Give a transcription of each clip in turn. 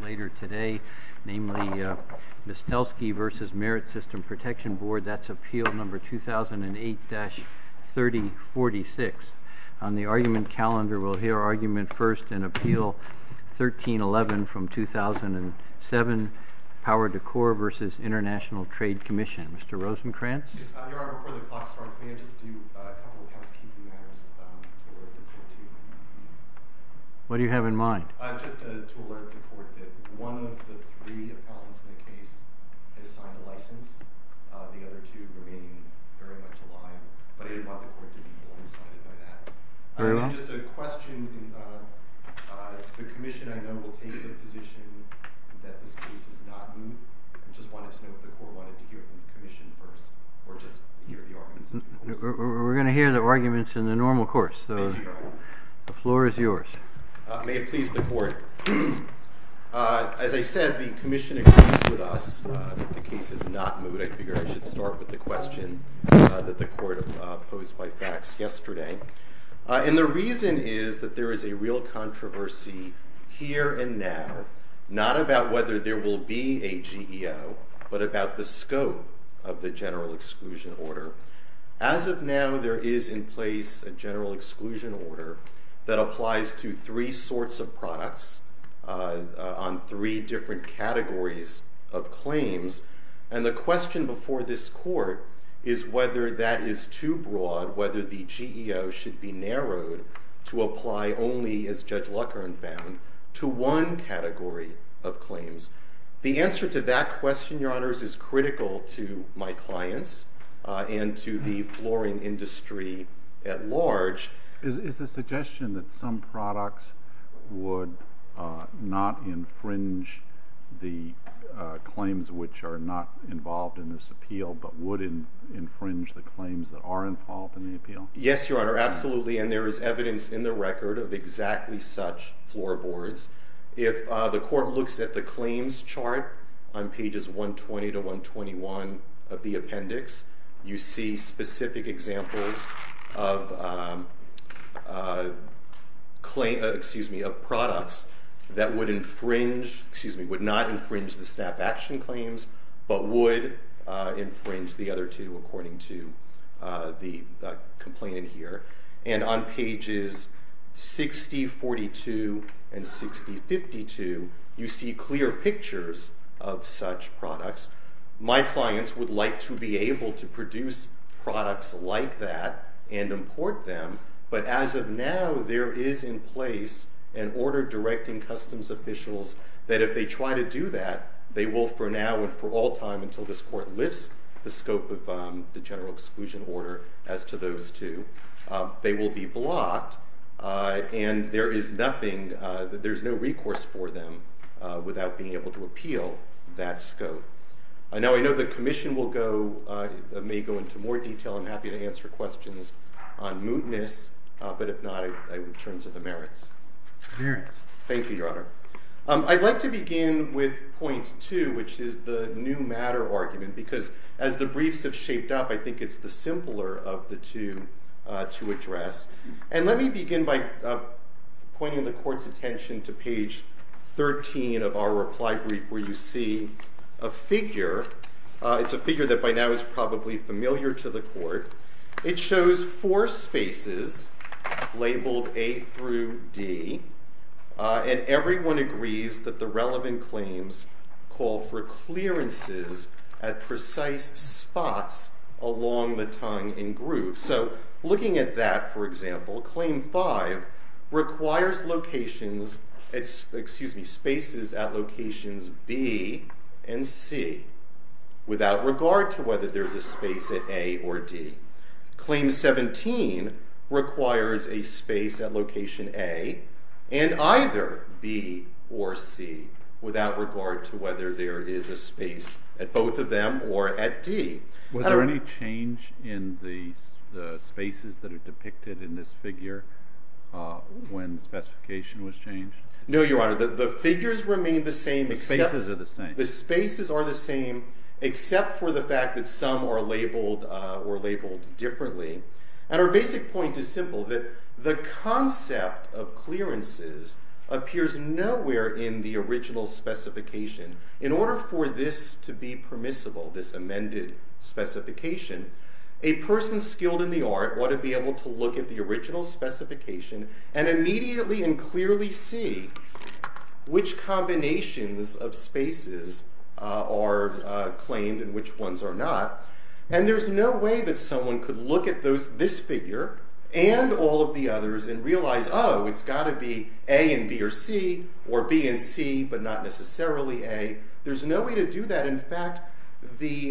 later today, namely, Mastelsky v. Merit System Protection Board, that's appeal number 2008-3046. On the argument calendar, we'll hear argument first in appeal 1311 from 2007, Power Dekor v. International Trade Commission. Mr. Rosencrantz? Your Honor, before the clock starts, may I just do a couple of housekeeping matters for the court to? What do you have in mind? Just to alert the court that one of the three appellants in the case has signed a license. The other two remain very much alive, but I didn't want the court to be blindsided by that. Very well. Just a question. The commission, I know, will take the position that this case is not new. I just wanted to know if the court wanted to hear it from the commission first or just hear the arguments in the normal course. We're going to hear the arguments in the normal course. Thank you, Your Honor. The floor is yours. May it please the court. As I said, the commission agrees with us that the case is not new. I figured I should start with the question that the court posed by fax yesterday. And the reason is that there is a real controversy here and now, not about whether there will be a GEO, but about the scope of the general exclusion order. As of now, there is in place a general exclusion order that applies to three sorts of products on three different categories of claims. And the question before this court is whether that is too broad, whether the GEO should be narrowed to apply only, as Judge Luckern found, to one category of claims. The answer to that question, Your Honors, is critical to my clients and to the flooring industry at large. Is the suggestion that some products would not infringe the claims which are not involved in this appeal, but would infringe the claims that are involved in the appeal? Yes, Your Honor, absolutely. And there is evidence in the record of exactly such floorboards. If the court looks at the claims chart on pages 120 to 121 of the appendix, you see specific examples of products that would not infringe the SNAP action claims, but would infringe the other two, according to the complaint in here. And on pages 6042 and 6052, you see clear pictures of such products. My clients would like to be able to produce products like that and import them, but as of now, there is in place an order directing customs officials that if they try to do that, they will for now and for all time, until this court lifts the scope of the general exclusion order as to those two, they will be blocked and there is no recourse for them without being able to appeal that scope. Now, I know the Commission may go into more detail. I'm happy to answer questions on mootness, but if not, I would turn to the merits. Merits. Thank you, Your Honor. I'd like to begin with point two, which is the new matter argument, because as the briefs have shaped up, I think it's the simpler of the two to address. And let me begin by pointing the court's attention to page 13 of our reply brief, where you see a figure. It's a figure that by now is probably familiar to the court. It shows four spaces labeled A through D, and everyone agrees that the relevant claims call for clearances at precise spots along the tongue and groove. So looking at that, for example, Claim 5 requires locations, excuse me, spaces at locations B and C without regard to whether there's a space at A or D. Claim 17 requires a space at location A and either B or C without regard to whether there is a space at both of them or at D. Was there any change in the spaces that are depicted in this figure when the specification was changed? No, Your Honor. The figures remain the same. The spaces are the same. The spaces are the same, except for the fact that some are labeled differently. And our basic point is simple, that the concept of clearances appears nowhere in the original specification. In order for this to be permissible, this amended specification, a person skilled in the art ought to be able to look at the original specification and immediately and clearly see which combinations of spaces are claimed and which ones are not. And there's no way that someone could look at this figure and all of the others and realize, oh, it's got to be A and B or C or B and C but not necessarily A. There's no way to do that. In fact, the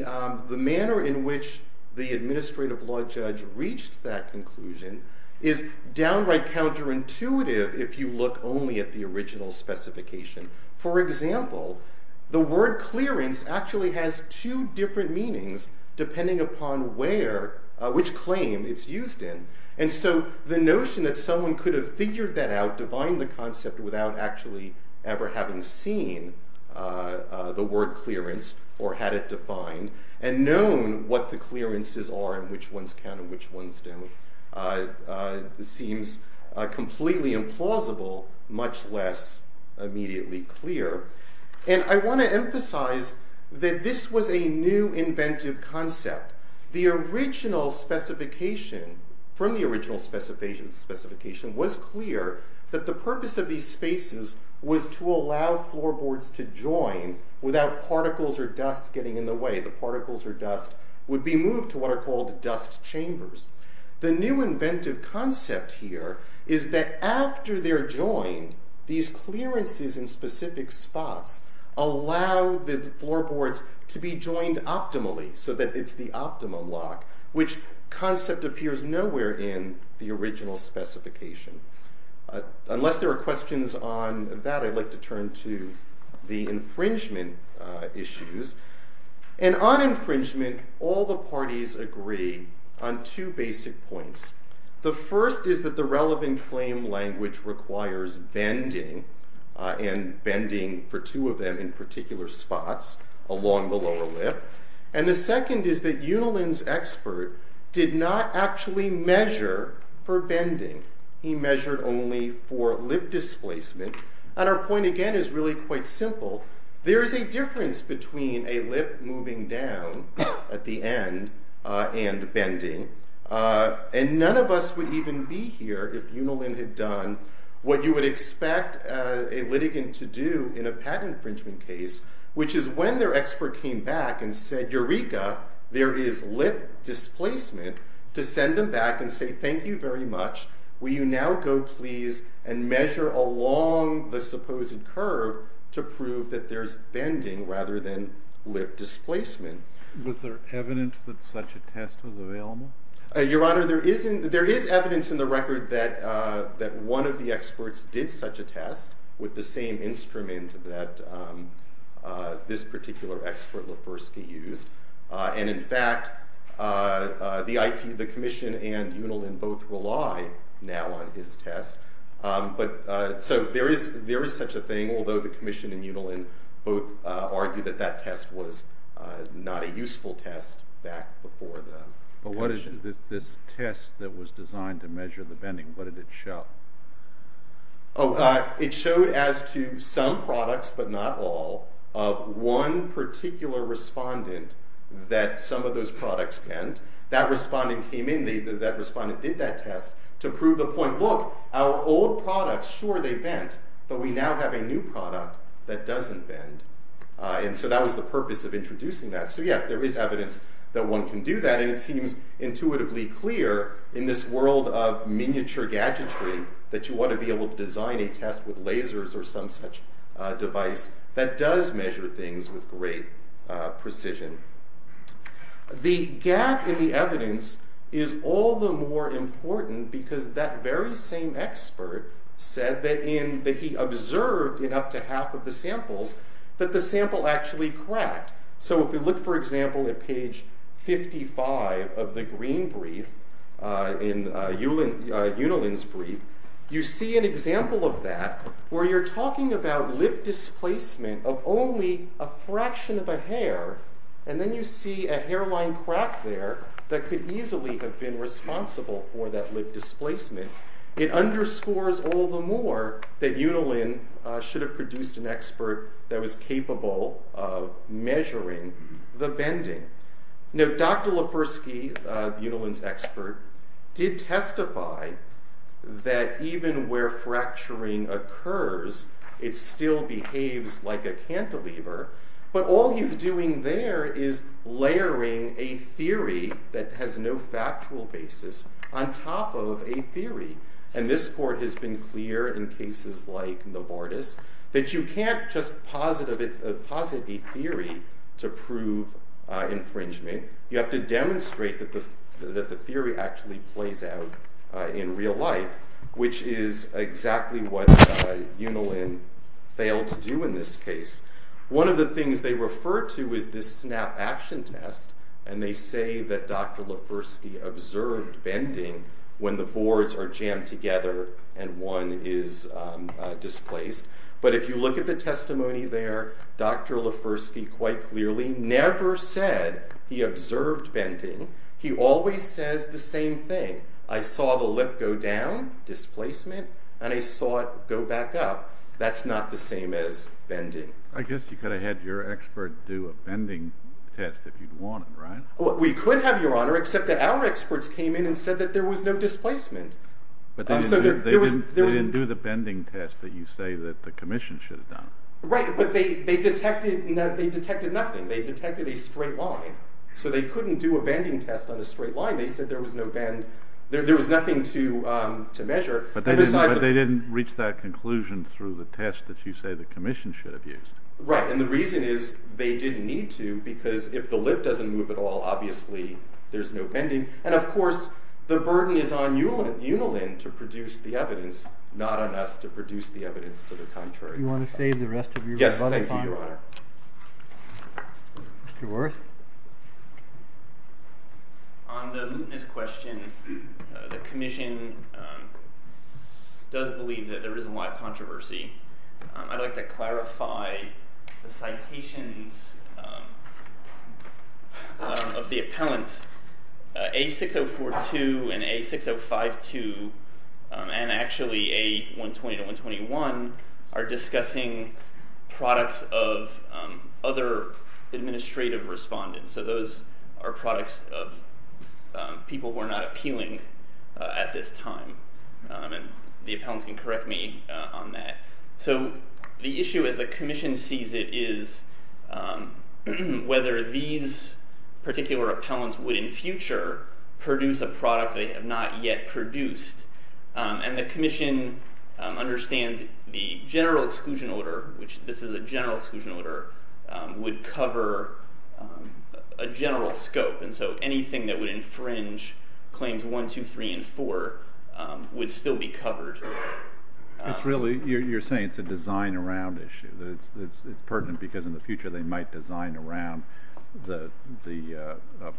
manner in which the administrative law judge reached that conclusion is downright counterintuitive if you look only at the original specification. For example, the word clearance actually has two different meanings depending upon which claim it's used in. And so the notion that someone could have figured that out, defined the concept, without actually ever having seen the word clearance or had it defined and known what the clearances are and which ones count and which ones don't seems completely implausible, much less immediately clear. And I want to emphasize that this was a new inventive concept. The original specification, from the original specification, was clear that the purpose of these spaces was to allow floorboards to join without particles or dust getting in the way. The particles or dust would be moved to what are called dust chambers. The new inventive concept here is that after they're joined, these clearances in specific spots allow the floorboards to be joined optimally so that it's the optimum lock, which concept appears nowhere in the original specification. Unless there are questions on that, I'd like to turn to the infringement issues. And on infringement, all the parties agree on two basic points. The first is that the relevant claim language requires bending, and bending for two of them in particular spots along the lower lip. And the second is that Unilin's expert did not actually measure for bending. He measured only for lip displacement. And our point again is really quite simple. There is a difference between a lip moving down at the end and bending. And none of us would even be here if Unilin had done what you would expect a litigant to do in a patent infringement case, which is when their expert came back and said, Eureka, there is lip displacement, to send them back and say, Thank you very much, will you now go please and measure along the supposed curve to prove that there's bending rather than lip displacement. Was there evidence that such a test was available? Your Honor, there is evidence in the record that one of the experts did such a test with the same instrument that this particular expert Lefersky used. And in fact, the commission and Unilin both rely now on his test. So there is such a thing, although the commission and Unilin both argue that that test was not a useful test back before the commission. But what is this test that was designed to measure the bending? What did it show? Oh, it showed as to some products, but not all, of one particular respondent that some of those products bent. That respondent came in, that respondent did that test to prove the point, Look, our old products, sure they bent, but we now have a new product that doesn't bend. And so that was the purpose of introducing that. So yes, there is evidence that one can do that, and it seems intuitively clear in this world of miniature gadgetry that you want to be able to design a test with lasers or some such device that does measure things with great precision. The gap in the evidence is all the more important because that very same expert said that he observed in up to half of the samples that the sample actually cracked. So if you look, for example, at page 55 of the green brief, in Unilin's brief, you see an example of that where you're talking about lip displacement of only a fraction of a hair, and then you see a hairline crack there that could easily have been responsible for that lip displacement. It underscores all the more that Unilin should have produced an expert that was capable of measuring the bending. Now, Dr. Lepersky, Unilin's expert, did testify that even where fracturing occurs, it still behaves like a cantilever, but all he's doing there is layering a theory that has no factual basis on top of a theory. And this court has been clear in cases like Novartis that you can't just posit a theory to prove infringement. You have to demonstrate that the theory actually plays out in real life, which is exactly what Unilin failed to do in this case. One of the things they refer to is this snap action test, and they say that Dr. Lepersky observed bending when the boards are jammed together and one is displaced. But if you look at the testimony there, Dr. Lepersky quite clearly never said he observed bending. He always says the same thing. I saw the lip go down, displacement, and I saw it go back up. That's not the same as bending. I guess you could have had your expert do a bending test if you'd wanted, right? We could have, Your Honor, except that our experts came in and said that there was no displacement. They didn't do the bending test that you say that the commission should have done. Right, but they detected nothing. They detected a straight line, so they couldn't do a bending test on a straight line. They said there was nothing to measure. But they didn't reach that conclusion through the test that you say the commission should have used. Right, and the reason is they didn't need to because if the lip doesn't move at all, obviously there's no bending. And, of course, the burden is on Unilin to produce the evidence, not on us to produce the evidence to the contrary. Do you want to save the rest of your rebuttal time? Yes, thank you, Your Honor. Mr. Wirth. On the luteness question, the commission does believe that there is a lot of controversy. I'd like to clarify the citations of the appellants. A6042 and A6052 and actually A120-121 are discussing products of other administrative respondents. So those are products of people who are not appealing at this time. And the appellants can correct me on that. So the issue as the commission sees it is whether these particular appellants would in future produce a product they have not yet produced. And the commission understands the general exclusion order, which this is a general exclusion order, would cover a general scope. And so anything that would infringe Claims 1, 2, 3, and 4 would still be covered. You're saying it's a design-around issue. It's pertinent because in the future they might design around the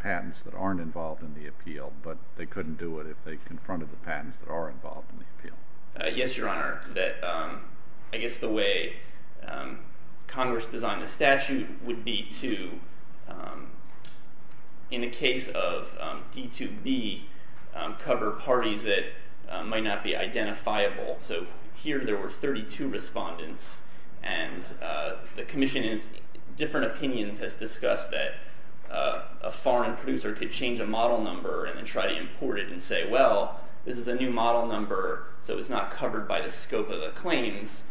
patents that aren't involved in the appeal, but they couldn't do it if they confronted the patents that are involved in the appeal. Yes, Your Honor. I guess the way Congress designed the statute would be to, in the case of D2B, cover parties that might not be identifiable. So here there were 32 respondents, and the commission in its different opinions has discussed that a foreign producer could change a model number and then try to import it and say, well, this is a new model number, so it's not covered by the scope of the claims,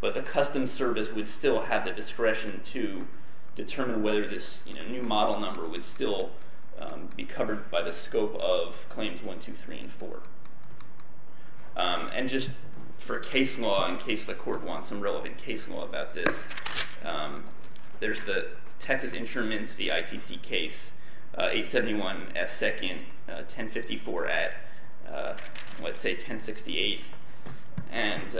but the Customs Service would still have the discretion to determine whether this new model number would still be covered by the scope of Claims 1, 2, 3, and 4. And just for case law, in case the Court wants some relevant case law about this, there's the Texas Insurance v. ITC case, 871 F. 2nd, 1054 at, let's say, 1068, and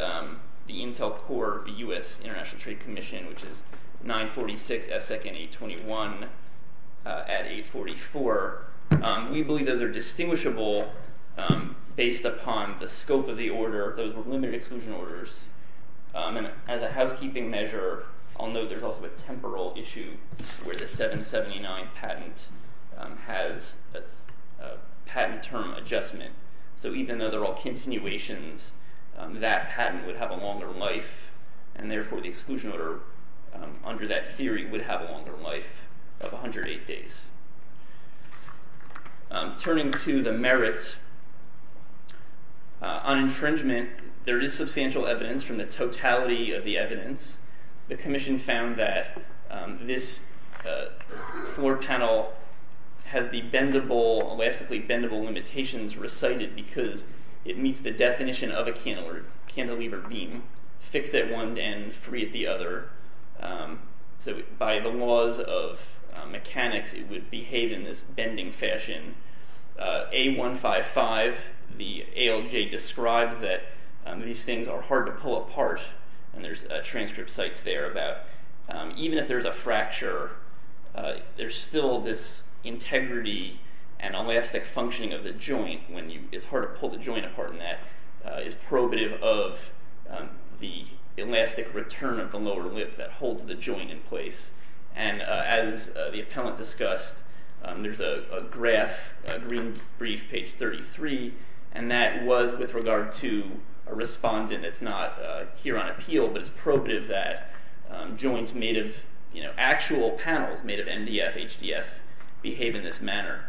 the Intel Corps v. U.S. International Trade Commission, which is 946 F. 2nd, 821 at 844. We believe those are distinguishable based upon the scope of the order. Those were limited exclusion orders. And as a housekeeping measure, I'll note there's also a temporal issue where the 779 patent has a patent term adjustment. So even though they're all continuations, that patent would have a longer life, and therefore the exclusion order under that theory would have a longer life of 108 days. Turning to the merits, on infringement, there is substantial evidence from the totality of the evidence. The Commission found that this floor panel has the elastically bendable limitations recited because it meets the definition of a cantilever beam, fixed at one end, free at the other. So by the laws of mechanics, it would behave in this bending fashion. A155, the ALJ describes that these things are hard to pull apart, and there's transcript sites there about even if there's a fracture, there's still this integrity and elastic functioning of the joint when it's hard to pull the joint apart, and that is probative of the elastic return of the lower lip that holds the joint in place. And as the appellant discussed, there's a graph, a green brief, page 33, and that was with regard to a respondent. It's not here on appeal, but it's probative that joints made of actual panels, made of MDF, HDF, behave in this manner.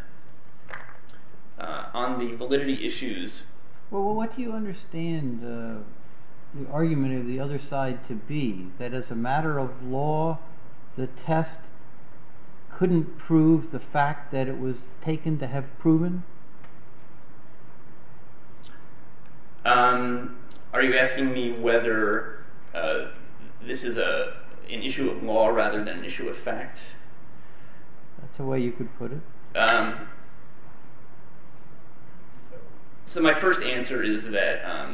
On the validity issues... Well, what do you understand the argument of the other side to be? That as a matter of law, the test couldn't prove the fact that it was taken to have proven? Are you asking me whether this is an issue of law rather than an issue of fact? That's the way you could put it. So my first answer is that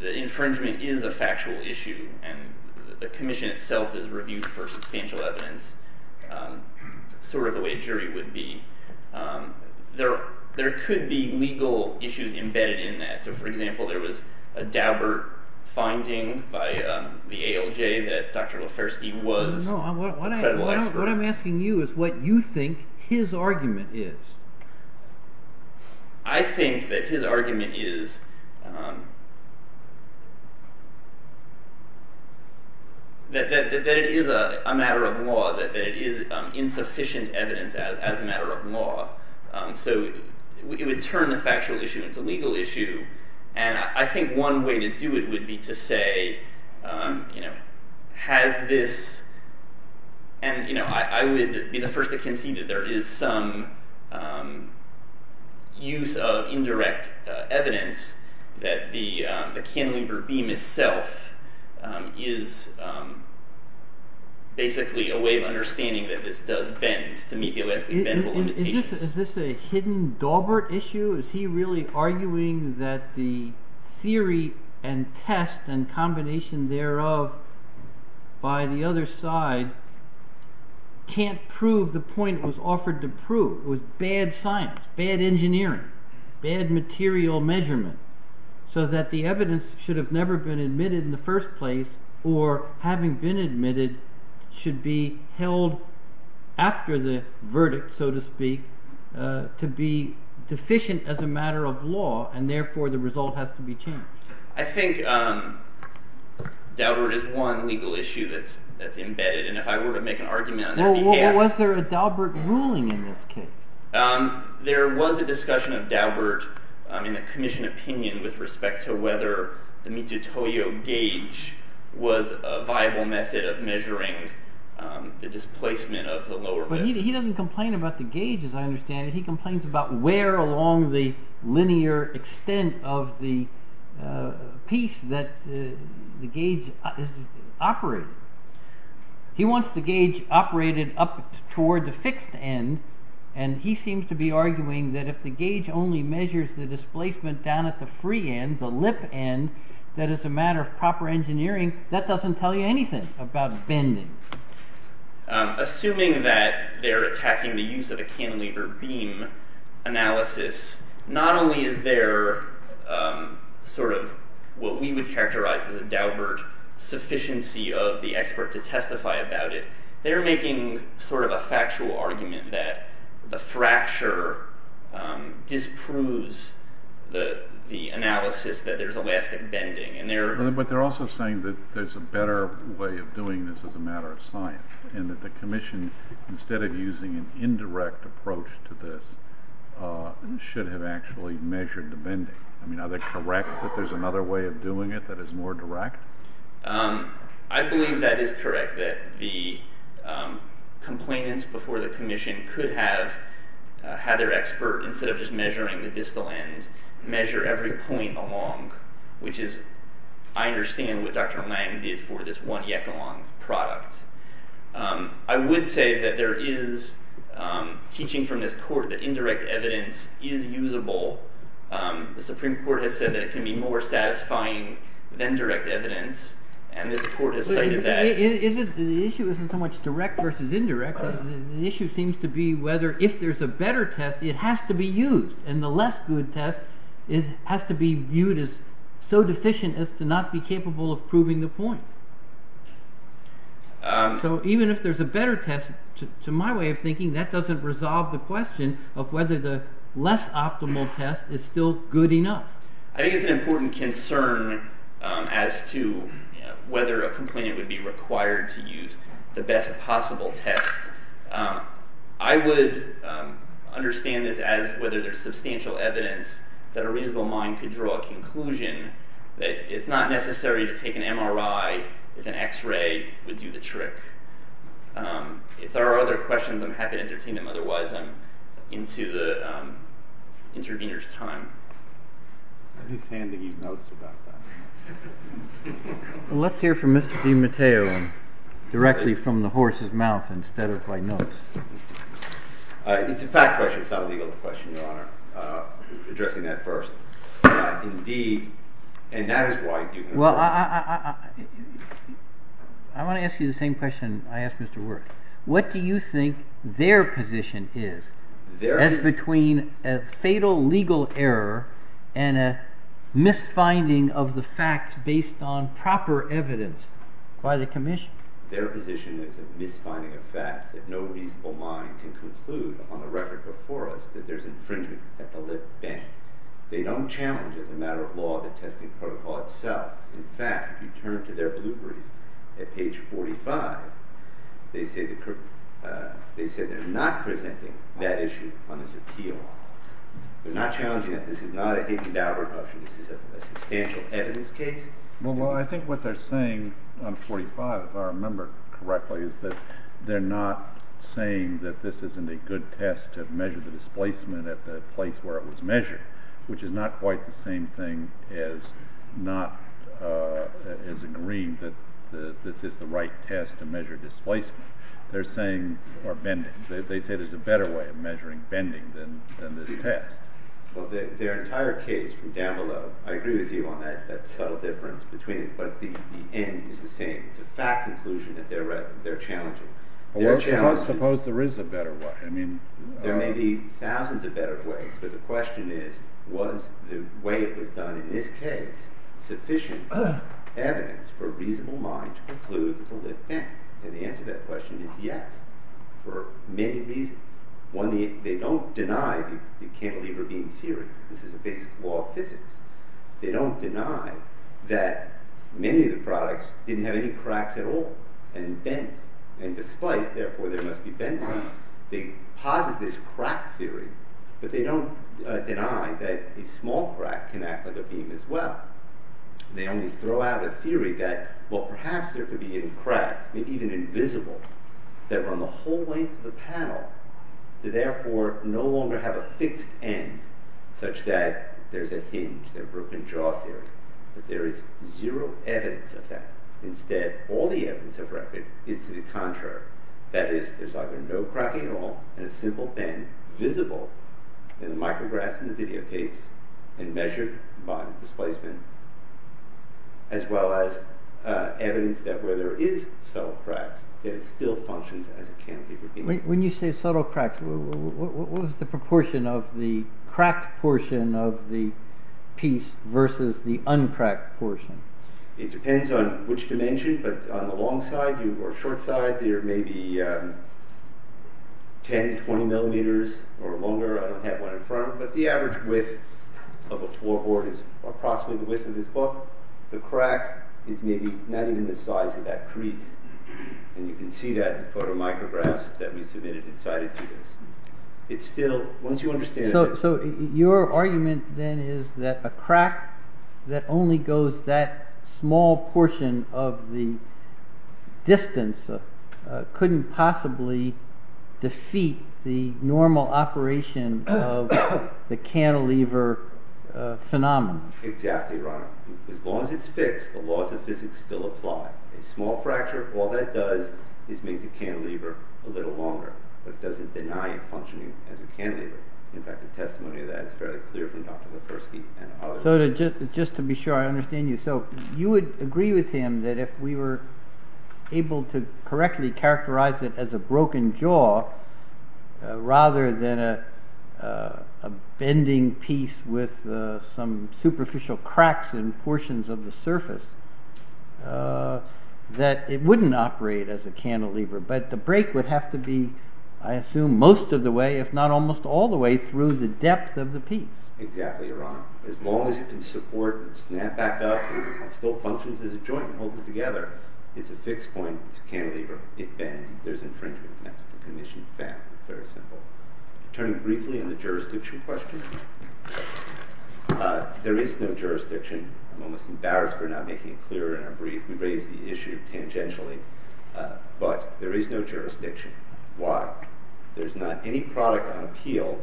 the infringement is a factual issue, and the commission itself is reviewed for substantial evidence, sort of the way a jury would be. There could be legal issues embedded in that. So, for example, there was a Daubert finding by the ALJ that Dr. Lefersky was a credible expert. No, what I'm asking you is what you think his argument is. I think that his argument is that it is a matter of law, that it is insufficient evidence as a matter of law. So it would turn the factual issue into a legal issue, and I think one way to do it would be to say, and I would be the first to concede that there is some use of indirect evidence that the Kahn-Lieber beam itself is basically a way of understanding that this does bend, to meet the Olesky-Bendel limitations. Is this a hidden Daubert issue? Is he really arguing that the theory and test and combination thereof by the other side can't prove the point that was offered to prove with bad science, bad engineering, bad material measurement, so that the evidence should have never been admitted in the first place or, having been admitted, should be held after the verdict, so to speak, to be deficient as a matter of law, and therefore the result has to be changed. I think Daubert is one legal issue that's embedded, and if I were to make an argument on their behalf— Well, was there a Daubert ruling in this case? There was a discussion of Daubert in the commission opinion with respect to whether the Michio Toyo gauge was a viable method of measuring the displacement of the lower— He doesn't complain about the gauge, as I understand it. He complains about where along the linear extent of the piece that the gauge is operating. He wants the gauge operated up toward the fixed end, and he seems to be arguing that if the gauge only measures the displacement down at the free end, the lip end, that as a matter of proper engineering, that doesn't tell you anything about bending. Assuming that they're attacking the use of a cantilever beam analysis, not only is there what we would characterize as a Daubert sufficiency of the expert to testify about it, they're making a factual argument that the fracture disproves the analysis that there's elastic bending. But they're also saying that there's a better way of doing this as a matter of science, and that the commission, instead of using an indirect approach to this, should have actually measured the bending. Are they correct that there's another way of doing it that is more direct? I believe that is correct, that the complainants before the commission could have had their expert, instead of just measuring the distal end, measure every point along, which is, I understand what Dr. Lang did for this one-yekalon product. I would say that there is teaching from this court that indirect evidence is usable. The Supreme Court has said that it can be more satisfying than direct evidence, and this court has cited that. The issue isn't so much direct versus indirect. The issue seems to be whether, if there's a better test, it has to be used, and the less good test has to be viewed as so deficient as to not be capable of proving the point. So even if there's a better test, to my way of thinking, that doesn't resolve the question of whether the less optimal test is still good enough. I think it's an important concern as to whether a complainant would be required to use the best possible test. I would understand this as whether there's substantial evidence that a reasonable mind could draw a conclusion that it's not necessary to take an MRI if an X-ray would do the trick. If there are other questions, I'm happy to entertain them. Otherwise, I'm into the intervener's time. I'm just handing you notes about that. Well, let's hear from Mr. DiMatteo directly from the horse's mouth instead of by notes. It's a fact question. It's not a legal question, Your Honor, addressing that first. Indeed, and that is why you can approach it. Well, I want to ask you the same question I asked Mr. Wirth. What do you think their position is as between a fatal legal error and a misfinding of the facts based on proper evidence by the commission? Their position is a misfinding of facts that no reasonable mind can conclude upon the record before us that there's infringement at the lip bend. They don't challenge as a matter of law the testing protocol itself. In fact, if you turn to their blue brief at page 45, they say they're not presenting that issue on this appeal. They're not challenging that this is not a hidden doubt repulsion. This is a substantial evidence case. Well, I think what they're saying on 45, if I remember correctly, is that they're not saying that this isn't a good test to measure the displacement at the place where it was measured, which is not quite the same thing as agreeing that this is the right test to measure displacement. They're saying there's a better way of measuring bending than this test. Well, their entire case from down below, I agree with you on that subtle difference between it, but the end is the same. It's a fact conclusion that they're challenging. Well, suppose there is a better way. There may be thousands of better ways, but the question is, was the way it was done in this case sufficient evidence for a reasonable mind to conclude the lip bend? And the answer to that question is yes, for many reasons. One, they don't deny the cantilever beam theory. This is a basic law of physics. They don't deny that many of the products didn't have any cracks at all and bent and displaced. Therefore, there must be bending. They posit this crack theory, but they don't deny that a small crack can act like a beam as well. They only throw out a theory that, well, perhaps there could be any cracks, maybe even invisible, that run the whole length of the panel, to therefore no longer have a fixed end such that there's a hinge, their broken jaw theory. But there is zero evidence of that. Instead, all the evidence of record is to the contrary. That is, there's either no crack at all in a simple bend, visible in the micrographs and videotapes, and measured by displacement, as well as evidence that where there is subtle cracks, it still functions as a cantilever beam. When you say subtle cracks, what was the proportion of the cracked portion of the piece versus the uncracked portion? It depends on which dimension, but on the long side or short side, there may be 10, 20 millimeters or longer. I don't have one in front, but the average width of a floorboard is approximately the width of this book. The crack is maybe not even the size of that crease. You can see that in photomicrographs that we submitted and cited to us. So your argument then is that a crack that only goes that small portion of the distance couldn't possibly defeat the normal operation of the cantilever phenomenon. Exactly, Your Honor. As long as it's fixed, the laws of physics still apply. A small fracture, all that does is make the cantilever a little longer, but it doesn't deny it functioning as a cantilever. In fact, the testimony to that is fairly clear from Dr. Lepersky and others. Just to be sure, I understand you. You would agree with him that if we were able to correctly characterize it as a broken jaw, rather than a bending piece with some superficial cracks in portions of the surface, that it wouldn't operate as a cantilever. But the break would have to be, I assume, most of the way, if not almost all the way, through the depth of the piece. Exactly, Your Honor. As long as it can support and snap back up and still functions as a joint and holds it together, it's a fixed point. It's a cantilever. It bends. There's infringement. That's the condition of fact. It's very simple. Turning briefly on the jurisdiction question, there is no jurisdiction. I'm almost embarrassed for not making it clearer in our brief. We raised the issue tangentially. But there is no jurisdiction. Why? There's not any product on appeal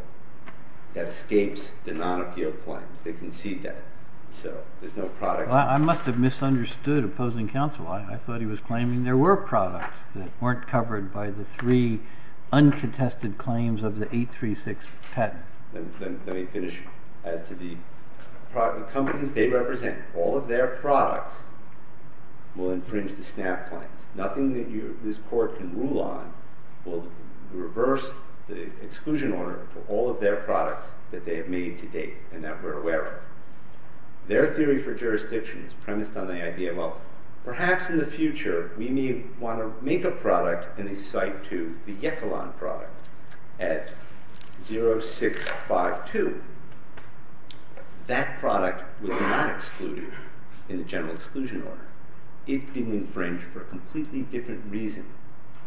that escapes the non-appeal claims. They concede that. So there's no product. I must have misunderstood opposing counsel. I thought he was claiming there were products that weren't covered by the three uncontested claims of the 836 patent. Let me finish. As to the companies they represent, all of their products will infringe the snap claims. Nothing that this Court can rule on will reverse the exclusion order for all of their products that they have made to date and that we're aware of. Their theory for jurisdiction is premised on the idea, well, perhaps in the future, we may want to make a product in the Site 2, the Yekalon product, at 0652. That product was not excluded in the general exclusion order. It didn't infringe for a completely different reason.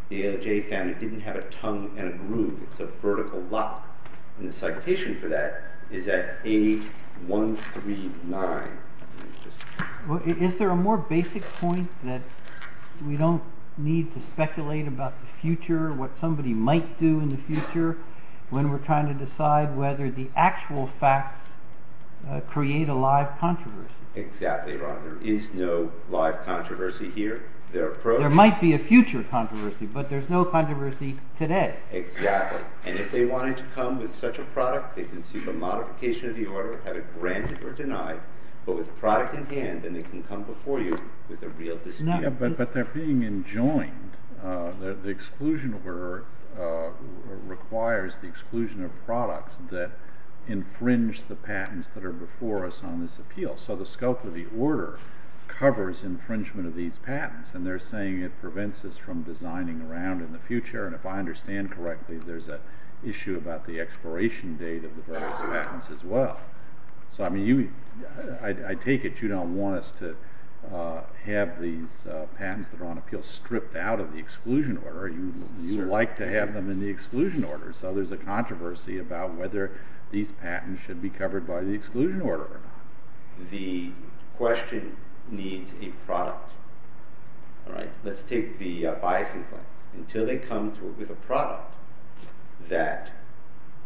The ALJ found it didn't have a tongue and a groove. It's a vertical lock. And the citation for that is at 8139. Is there a more basic point that we don't need to speculate about the future, what somebody might do in the future, when we're trying to decide whether the actual facts create a live controversy? Exactly, Ron. There is no live controversy here. There might be a future controversy, but there's no controversy today. Exactly. And if they wanted to come with such a product, they can seek a modification of the order, have it granted or denied, but with the product in hand, then they can come before you with a real dispute. But they're being enjoined. The exclusion order requires the exclusion of products that infringe the patents that are before us on this appeal. So the scope of the order covers infringement of these patents, and they're saying it prevents us from designing around in the future. And if I understand correctly, there's an issue about the expiration date of the patents as well. So I take it you don't want us to have these patents that are on appeal stripped out of the exclusion order. You would like to have them in the exclusion order. So there's a controversy about whether these patents should be covered by the exclusion order or not. The question needs a product. Let's take the biasing claims. Until they come with a product that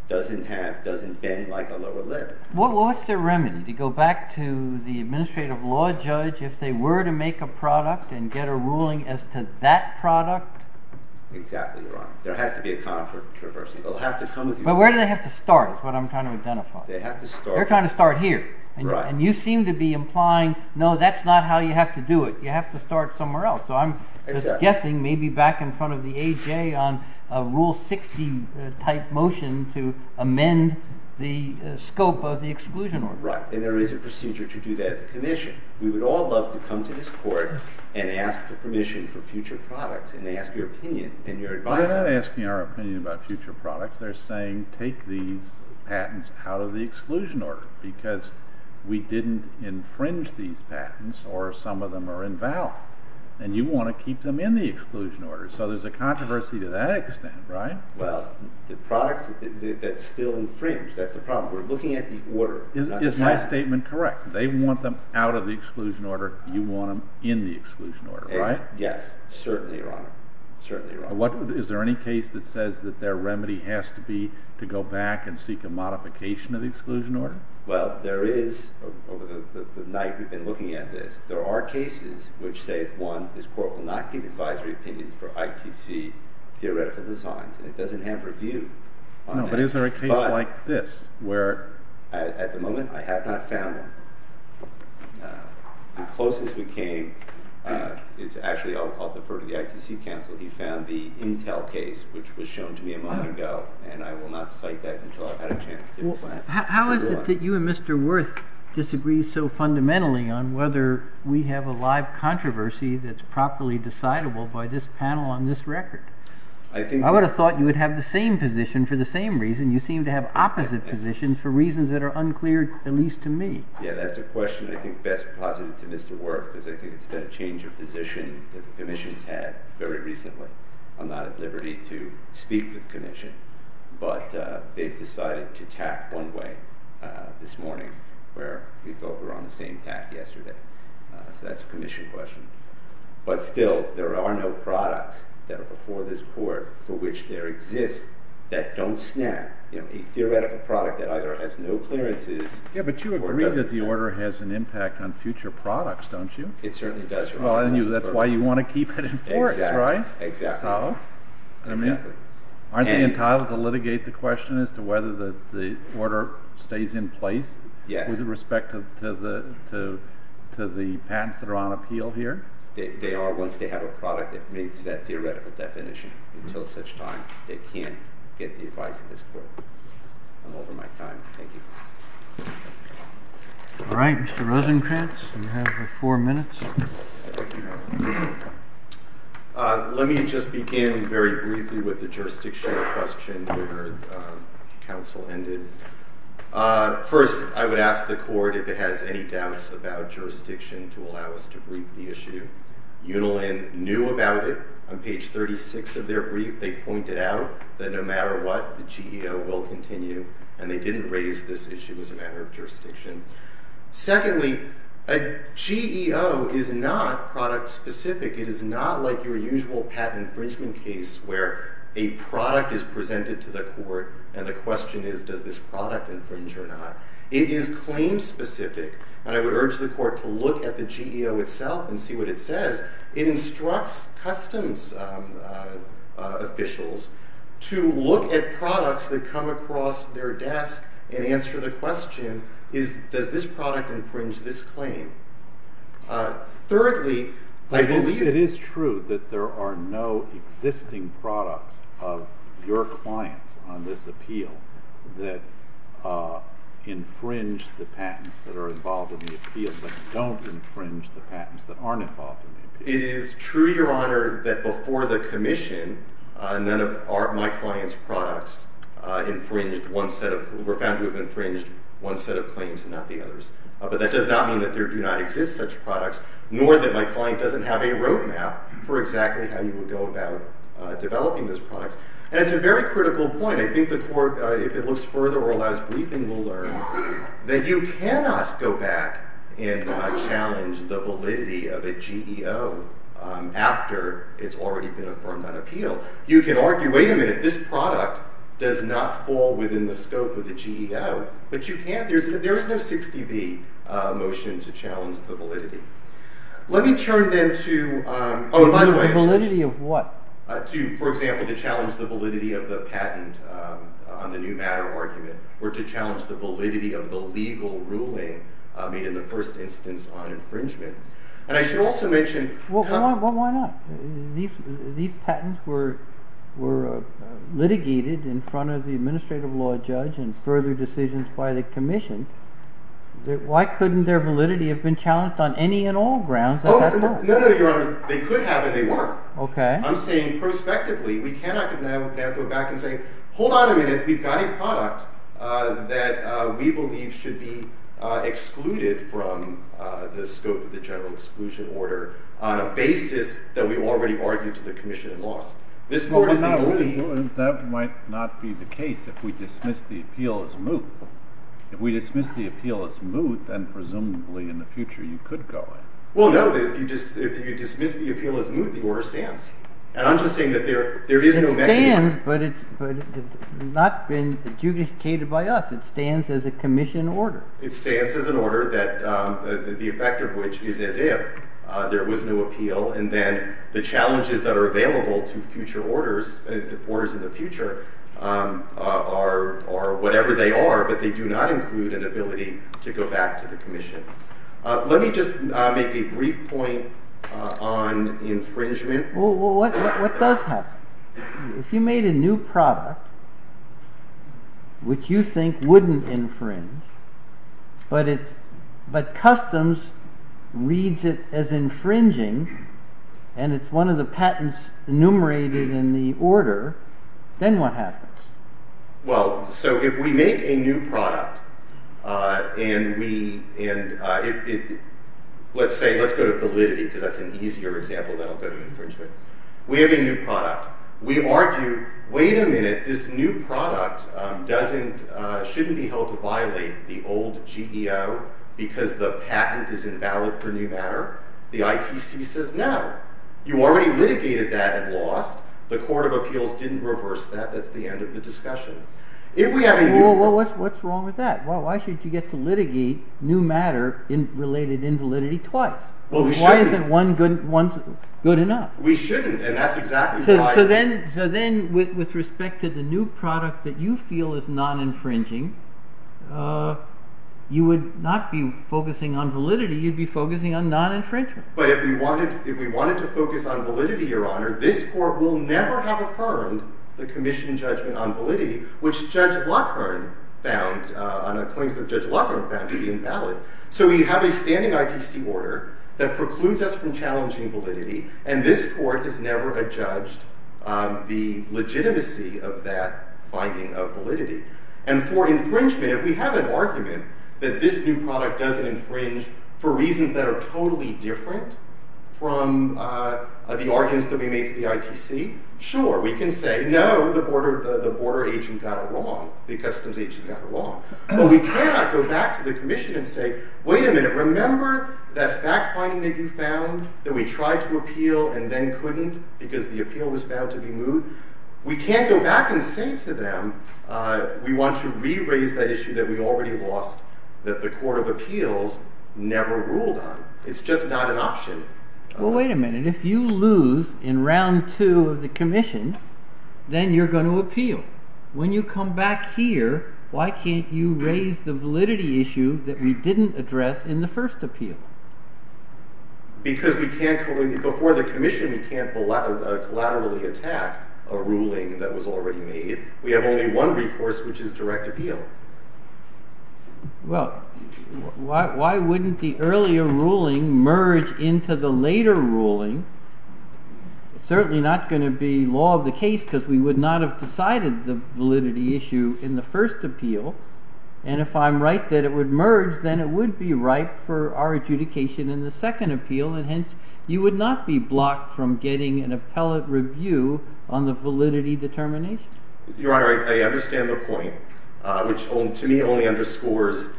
doesn't have, doesn't bend like a lower limb. What's their remedy? Do you go back to the administrative law judge? If they were to make a product and get a ruling as to that product? Exactly. There has to be a controversy. But where do they have to start is what I'm trying to identify. They're trying to start here. And you seem to be implying no, that's not how you have to do it. You have to start somewhere else. So I'm just guessing maybe back in front of the AJ on a rule 60 type motion to amend the scope of the exclusion order. Right. And there is a procedure to do that at the commission. We would all love to come to this court and ask for permission for future products and ask your opinion and your advice. We're not asking our opinion about future products. They're saying take these patents out of the exclusion order. Because we didn't infringe these patents or some of them are invalid. And you want to keep them in the exclusion order. So there's a controversy to that extent, right? Well, the products that still infringe, that's the problem. We're looking at the order, not the patents. Is my statement correct? They want them out of the exclusion order. You want them in the exclusion order, right? Yes. Certainly, Your Honor. Certainly, Your Honor. Is there any case that says that their remedy has to be to go back and seek a modification of the exclusion order? Well, there is. Over the night we've been looking at this, there are cases which say, one, this court will not give advisory opinions for ITC theoretical designs. And it doesn't have review on that. No, but is there a case like this? At the moment, I have not found one. The closest we came is actually, I'll defer to the ITC counsel, he found the Intel case, which was shown to me a moment ago. And I will not cite that until I've had a chance to plan. How is it that you and Mr. Wirth disagree so fundamentally on whether we have a live controversy that's properly decidable by this panel on this record? I would have thought you would have the same position for the same reason. You seem to have opposite positions for reasons that are unclear, at least to me. Yeah, that's a question I think best posited to Mr. Wirth, because I think it's been a change of position that the Commission's had very recently. I'm not at liberty to speak with the Commission, but they've decided to tack one way this morning, where we felt we were on the same tack yesterday. So that's a Commission question. But still, there are no products that are before this court for which there exist that don't snap. A theoretical product that either has no clearances or doesn't snap. Yeah, but you agree that the order has an impact on future products, don't you? It certainly does, Your Honor. Well, and that's why you want to keep it in force, right? Exactly. So? Exactly. Aren't they entitled to litigate the question as to whether the order stays in place? Yes. With respect to the patents that are on appeal here? They are. Once they have a product that meets that theoretical definition. Until such time, they can't get the advice of this court. I'm over my time. Thank you. All right. Mr. Rosenkranz, you have four minutes. Thank you, Your Honor. Let me just begin very briefly with the jurisdiction question where counsel ended. First, I would ask the court if it has any doubts about jurisdiction to allow us to brief the issue. Unilin knew about it. On page 36 of their brief, they pointed out that no matter what, the GEO will continue. And they didn't raise this issue as a matter of jurisdiction. Secondly, a GEO is not product-specific. It is not like your usual patent infringement case where a product is presented to the court and the question is, does this product infringe or not? It is claim-specific. And I would urge the court to look at the GEO itself and see what it says. It instructs customs officials to look at products that come across their desk and answer the question, does this product infringe this claim? Thirdly, I believe— It is true that there are no existing products of your clients on this appeal that infringe the patents that are involved in the appeal that don't infringe the patents that aren't involved in the appeal. It is true, Your Honor, that before the commission, none of my clients' products were found to have infringed one set of claims and not the others. But that does not mean that there do not exist such products, nor that my client doesn't have a roadmap for exactly how you would go about developing those products. And it's a very critical point. I think the court, if it looks further or allows briefing, will learn that you cannot go back and challenge the validity of a GEO after it's already been affirmed on appeal. You can argue, wait a minute, this product does not fall within the scope of the GEO. But you can't—there is no 60B motion to challenge the validity. Let me turn then to— The validity of what? For example, to challenge the validity of the patent on the new matter argument or to challenge the validity of the legal ruling made in the first instance on infringement. And I should also mention— Why not? These patents were litigated in front of the administrative law judge and further decisions by the commission. Why couldn't their validity have been challenged on any and all grounds at that time? No, no, no, Your Honor. They could have, and they were. Okay. I'm saying prospectively, we cannot go back and say, hold on a minute. We've got a product that we believe should be excluded from the scope of the general exclusion order on a basis that we've already argued to the commission in laws. That might not be the case if we dismiss the appeal as moot. If we dismiss the appeal as moot, then presumably in the future you could go in. Well, no. If you dismiss the appeal as moot, the order stands. And I'm just saying that there is no mechanism— But it's not been adjudicated by us. It stands as a commission order. It stands as an order that the effect of which is as if there was no appeal, and then the challenges that are available to future orders, orders in the future, are whatever they are, but they do not include an ability to go back to the commission. Let me just make a brief point on infringement. Well, what does happen? If you made a new product which you think wouldn't infringe, but customs reads it as infringing, and it's one of the patents enumerated in the order, then what happens? Well, so if we make a new product and we— Let's say, let's go to validity because that's an easier example than I'll go to infringement. We have a new product. We argue, wait a minute, this new product shouldn't be held to violate the old GEO because the patent is invalid for new matter. The ITC says no. You already litigated that at loss. The Court of Appeals didn't reverse that. That's the end of the discussion. If we have a new— Well, what's wrong with that? Why should you get to litigate new matter related invalidity twice? Why isn't one good enough? We shouldn't, and that's exactly why— So then, with respect to the new product that you feel is non-infringing, you would not be focusing on validity. You'd be focusing on non-infringement. But if we wanted to focus on validity, Your Honor, this Court will never have affirmed the commission judgment on validity, which Judge Lockhearn found on a claim that Judge Lockhearn found to be invalid. So we have a standing ITC order that precludes us from challenging validity, and this Court has never adjudged the legitimacy of that finding of validity. And for infringement, if we have an argument that this new product doesn't infringe for reasons that are totally different from the arguments that we made to the ITC, sure, we can say, no, the border agent got it wrong, the customs agent got it wrong. But we cannot go back to the commission and say, wait a minute, remember that fact-finding that you found, that we tried to appeal and then couldn't because the appeal was found to be moot? We can't go back and say to them, we want to re-raise that issue that we already lost, that the Court of Appeals never ruled on. It's just not an option. Well, wait a minute. If you lose in round two of the commission, then you're going to appeal. When you come back here, why can't you raise the validity issue that we didn't address in the first appeal? Because before the commission, we can't collaterally attack a ruling that was already made. We have only one recourse, which is direct appeal. Well, why wouldn't the earlier ruling merge into the later ruling? It's certainly not going to be law of the case because we would not have decided the validity issue in the first appeal. And if I'm right that it would merge, then it would be right for our adjudication in the second appeal. And hence, you would not be blocked from getting an appellate review on the validity determination. Your Honor, I understand the point, which to me only underscores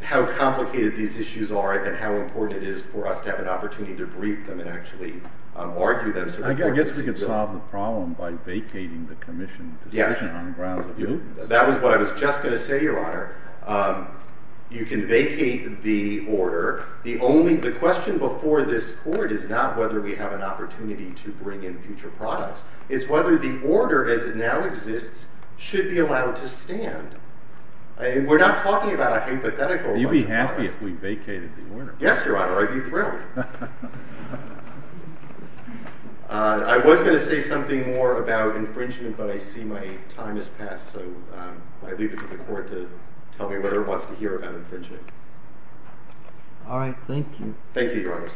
how complicated these issues are and how important it is for us to have an opportunity to brief them and actually argue them. I guess we could solve the problem by vacating the commission position on the grounds of the appeal. That was what I was just going to say, Your Honor. You can vacate the order. The question before this Court is not whether we have an opportunity to bring in future products. It's whether the order as it now exists should be allowed to stand. We're not talking about a hypothetical. You'd be happy if we vacated the order. Yes, Your Honor. I'd be thrilled. I was going to say something more about infringement, but I see my time has passed. So I leave it to the Court to tell me whatever it wants to hear about infringement. All right. Thank you. Thank you, Your Honor.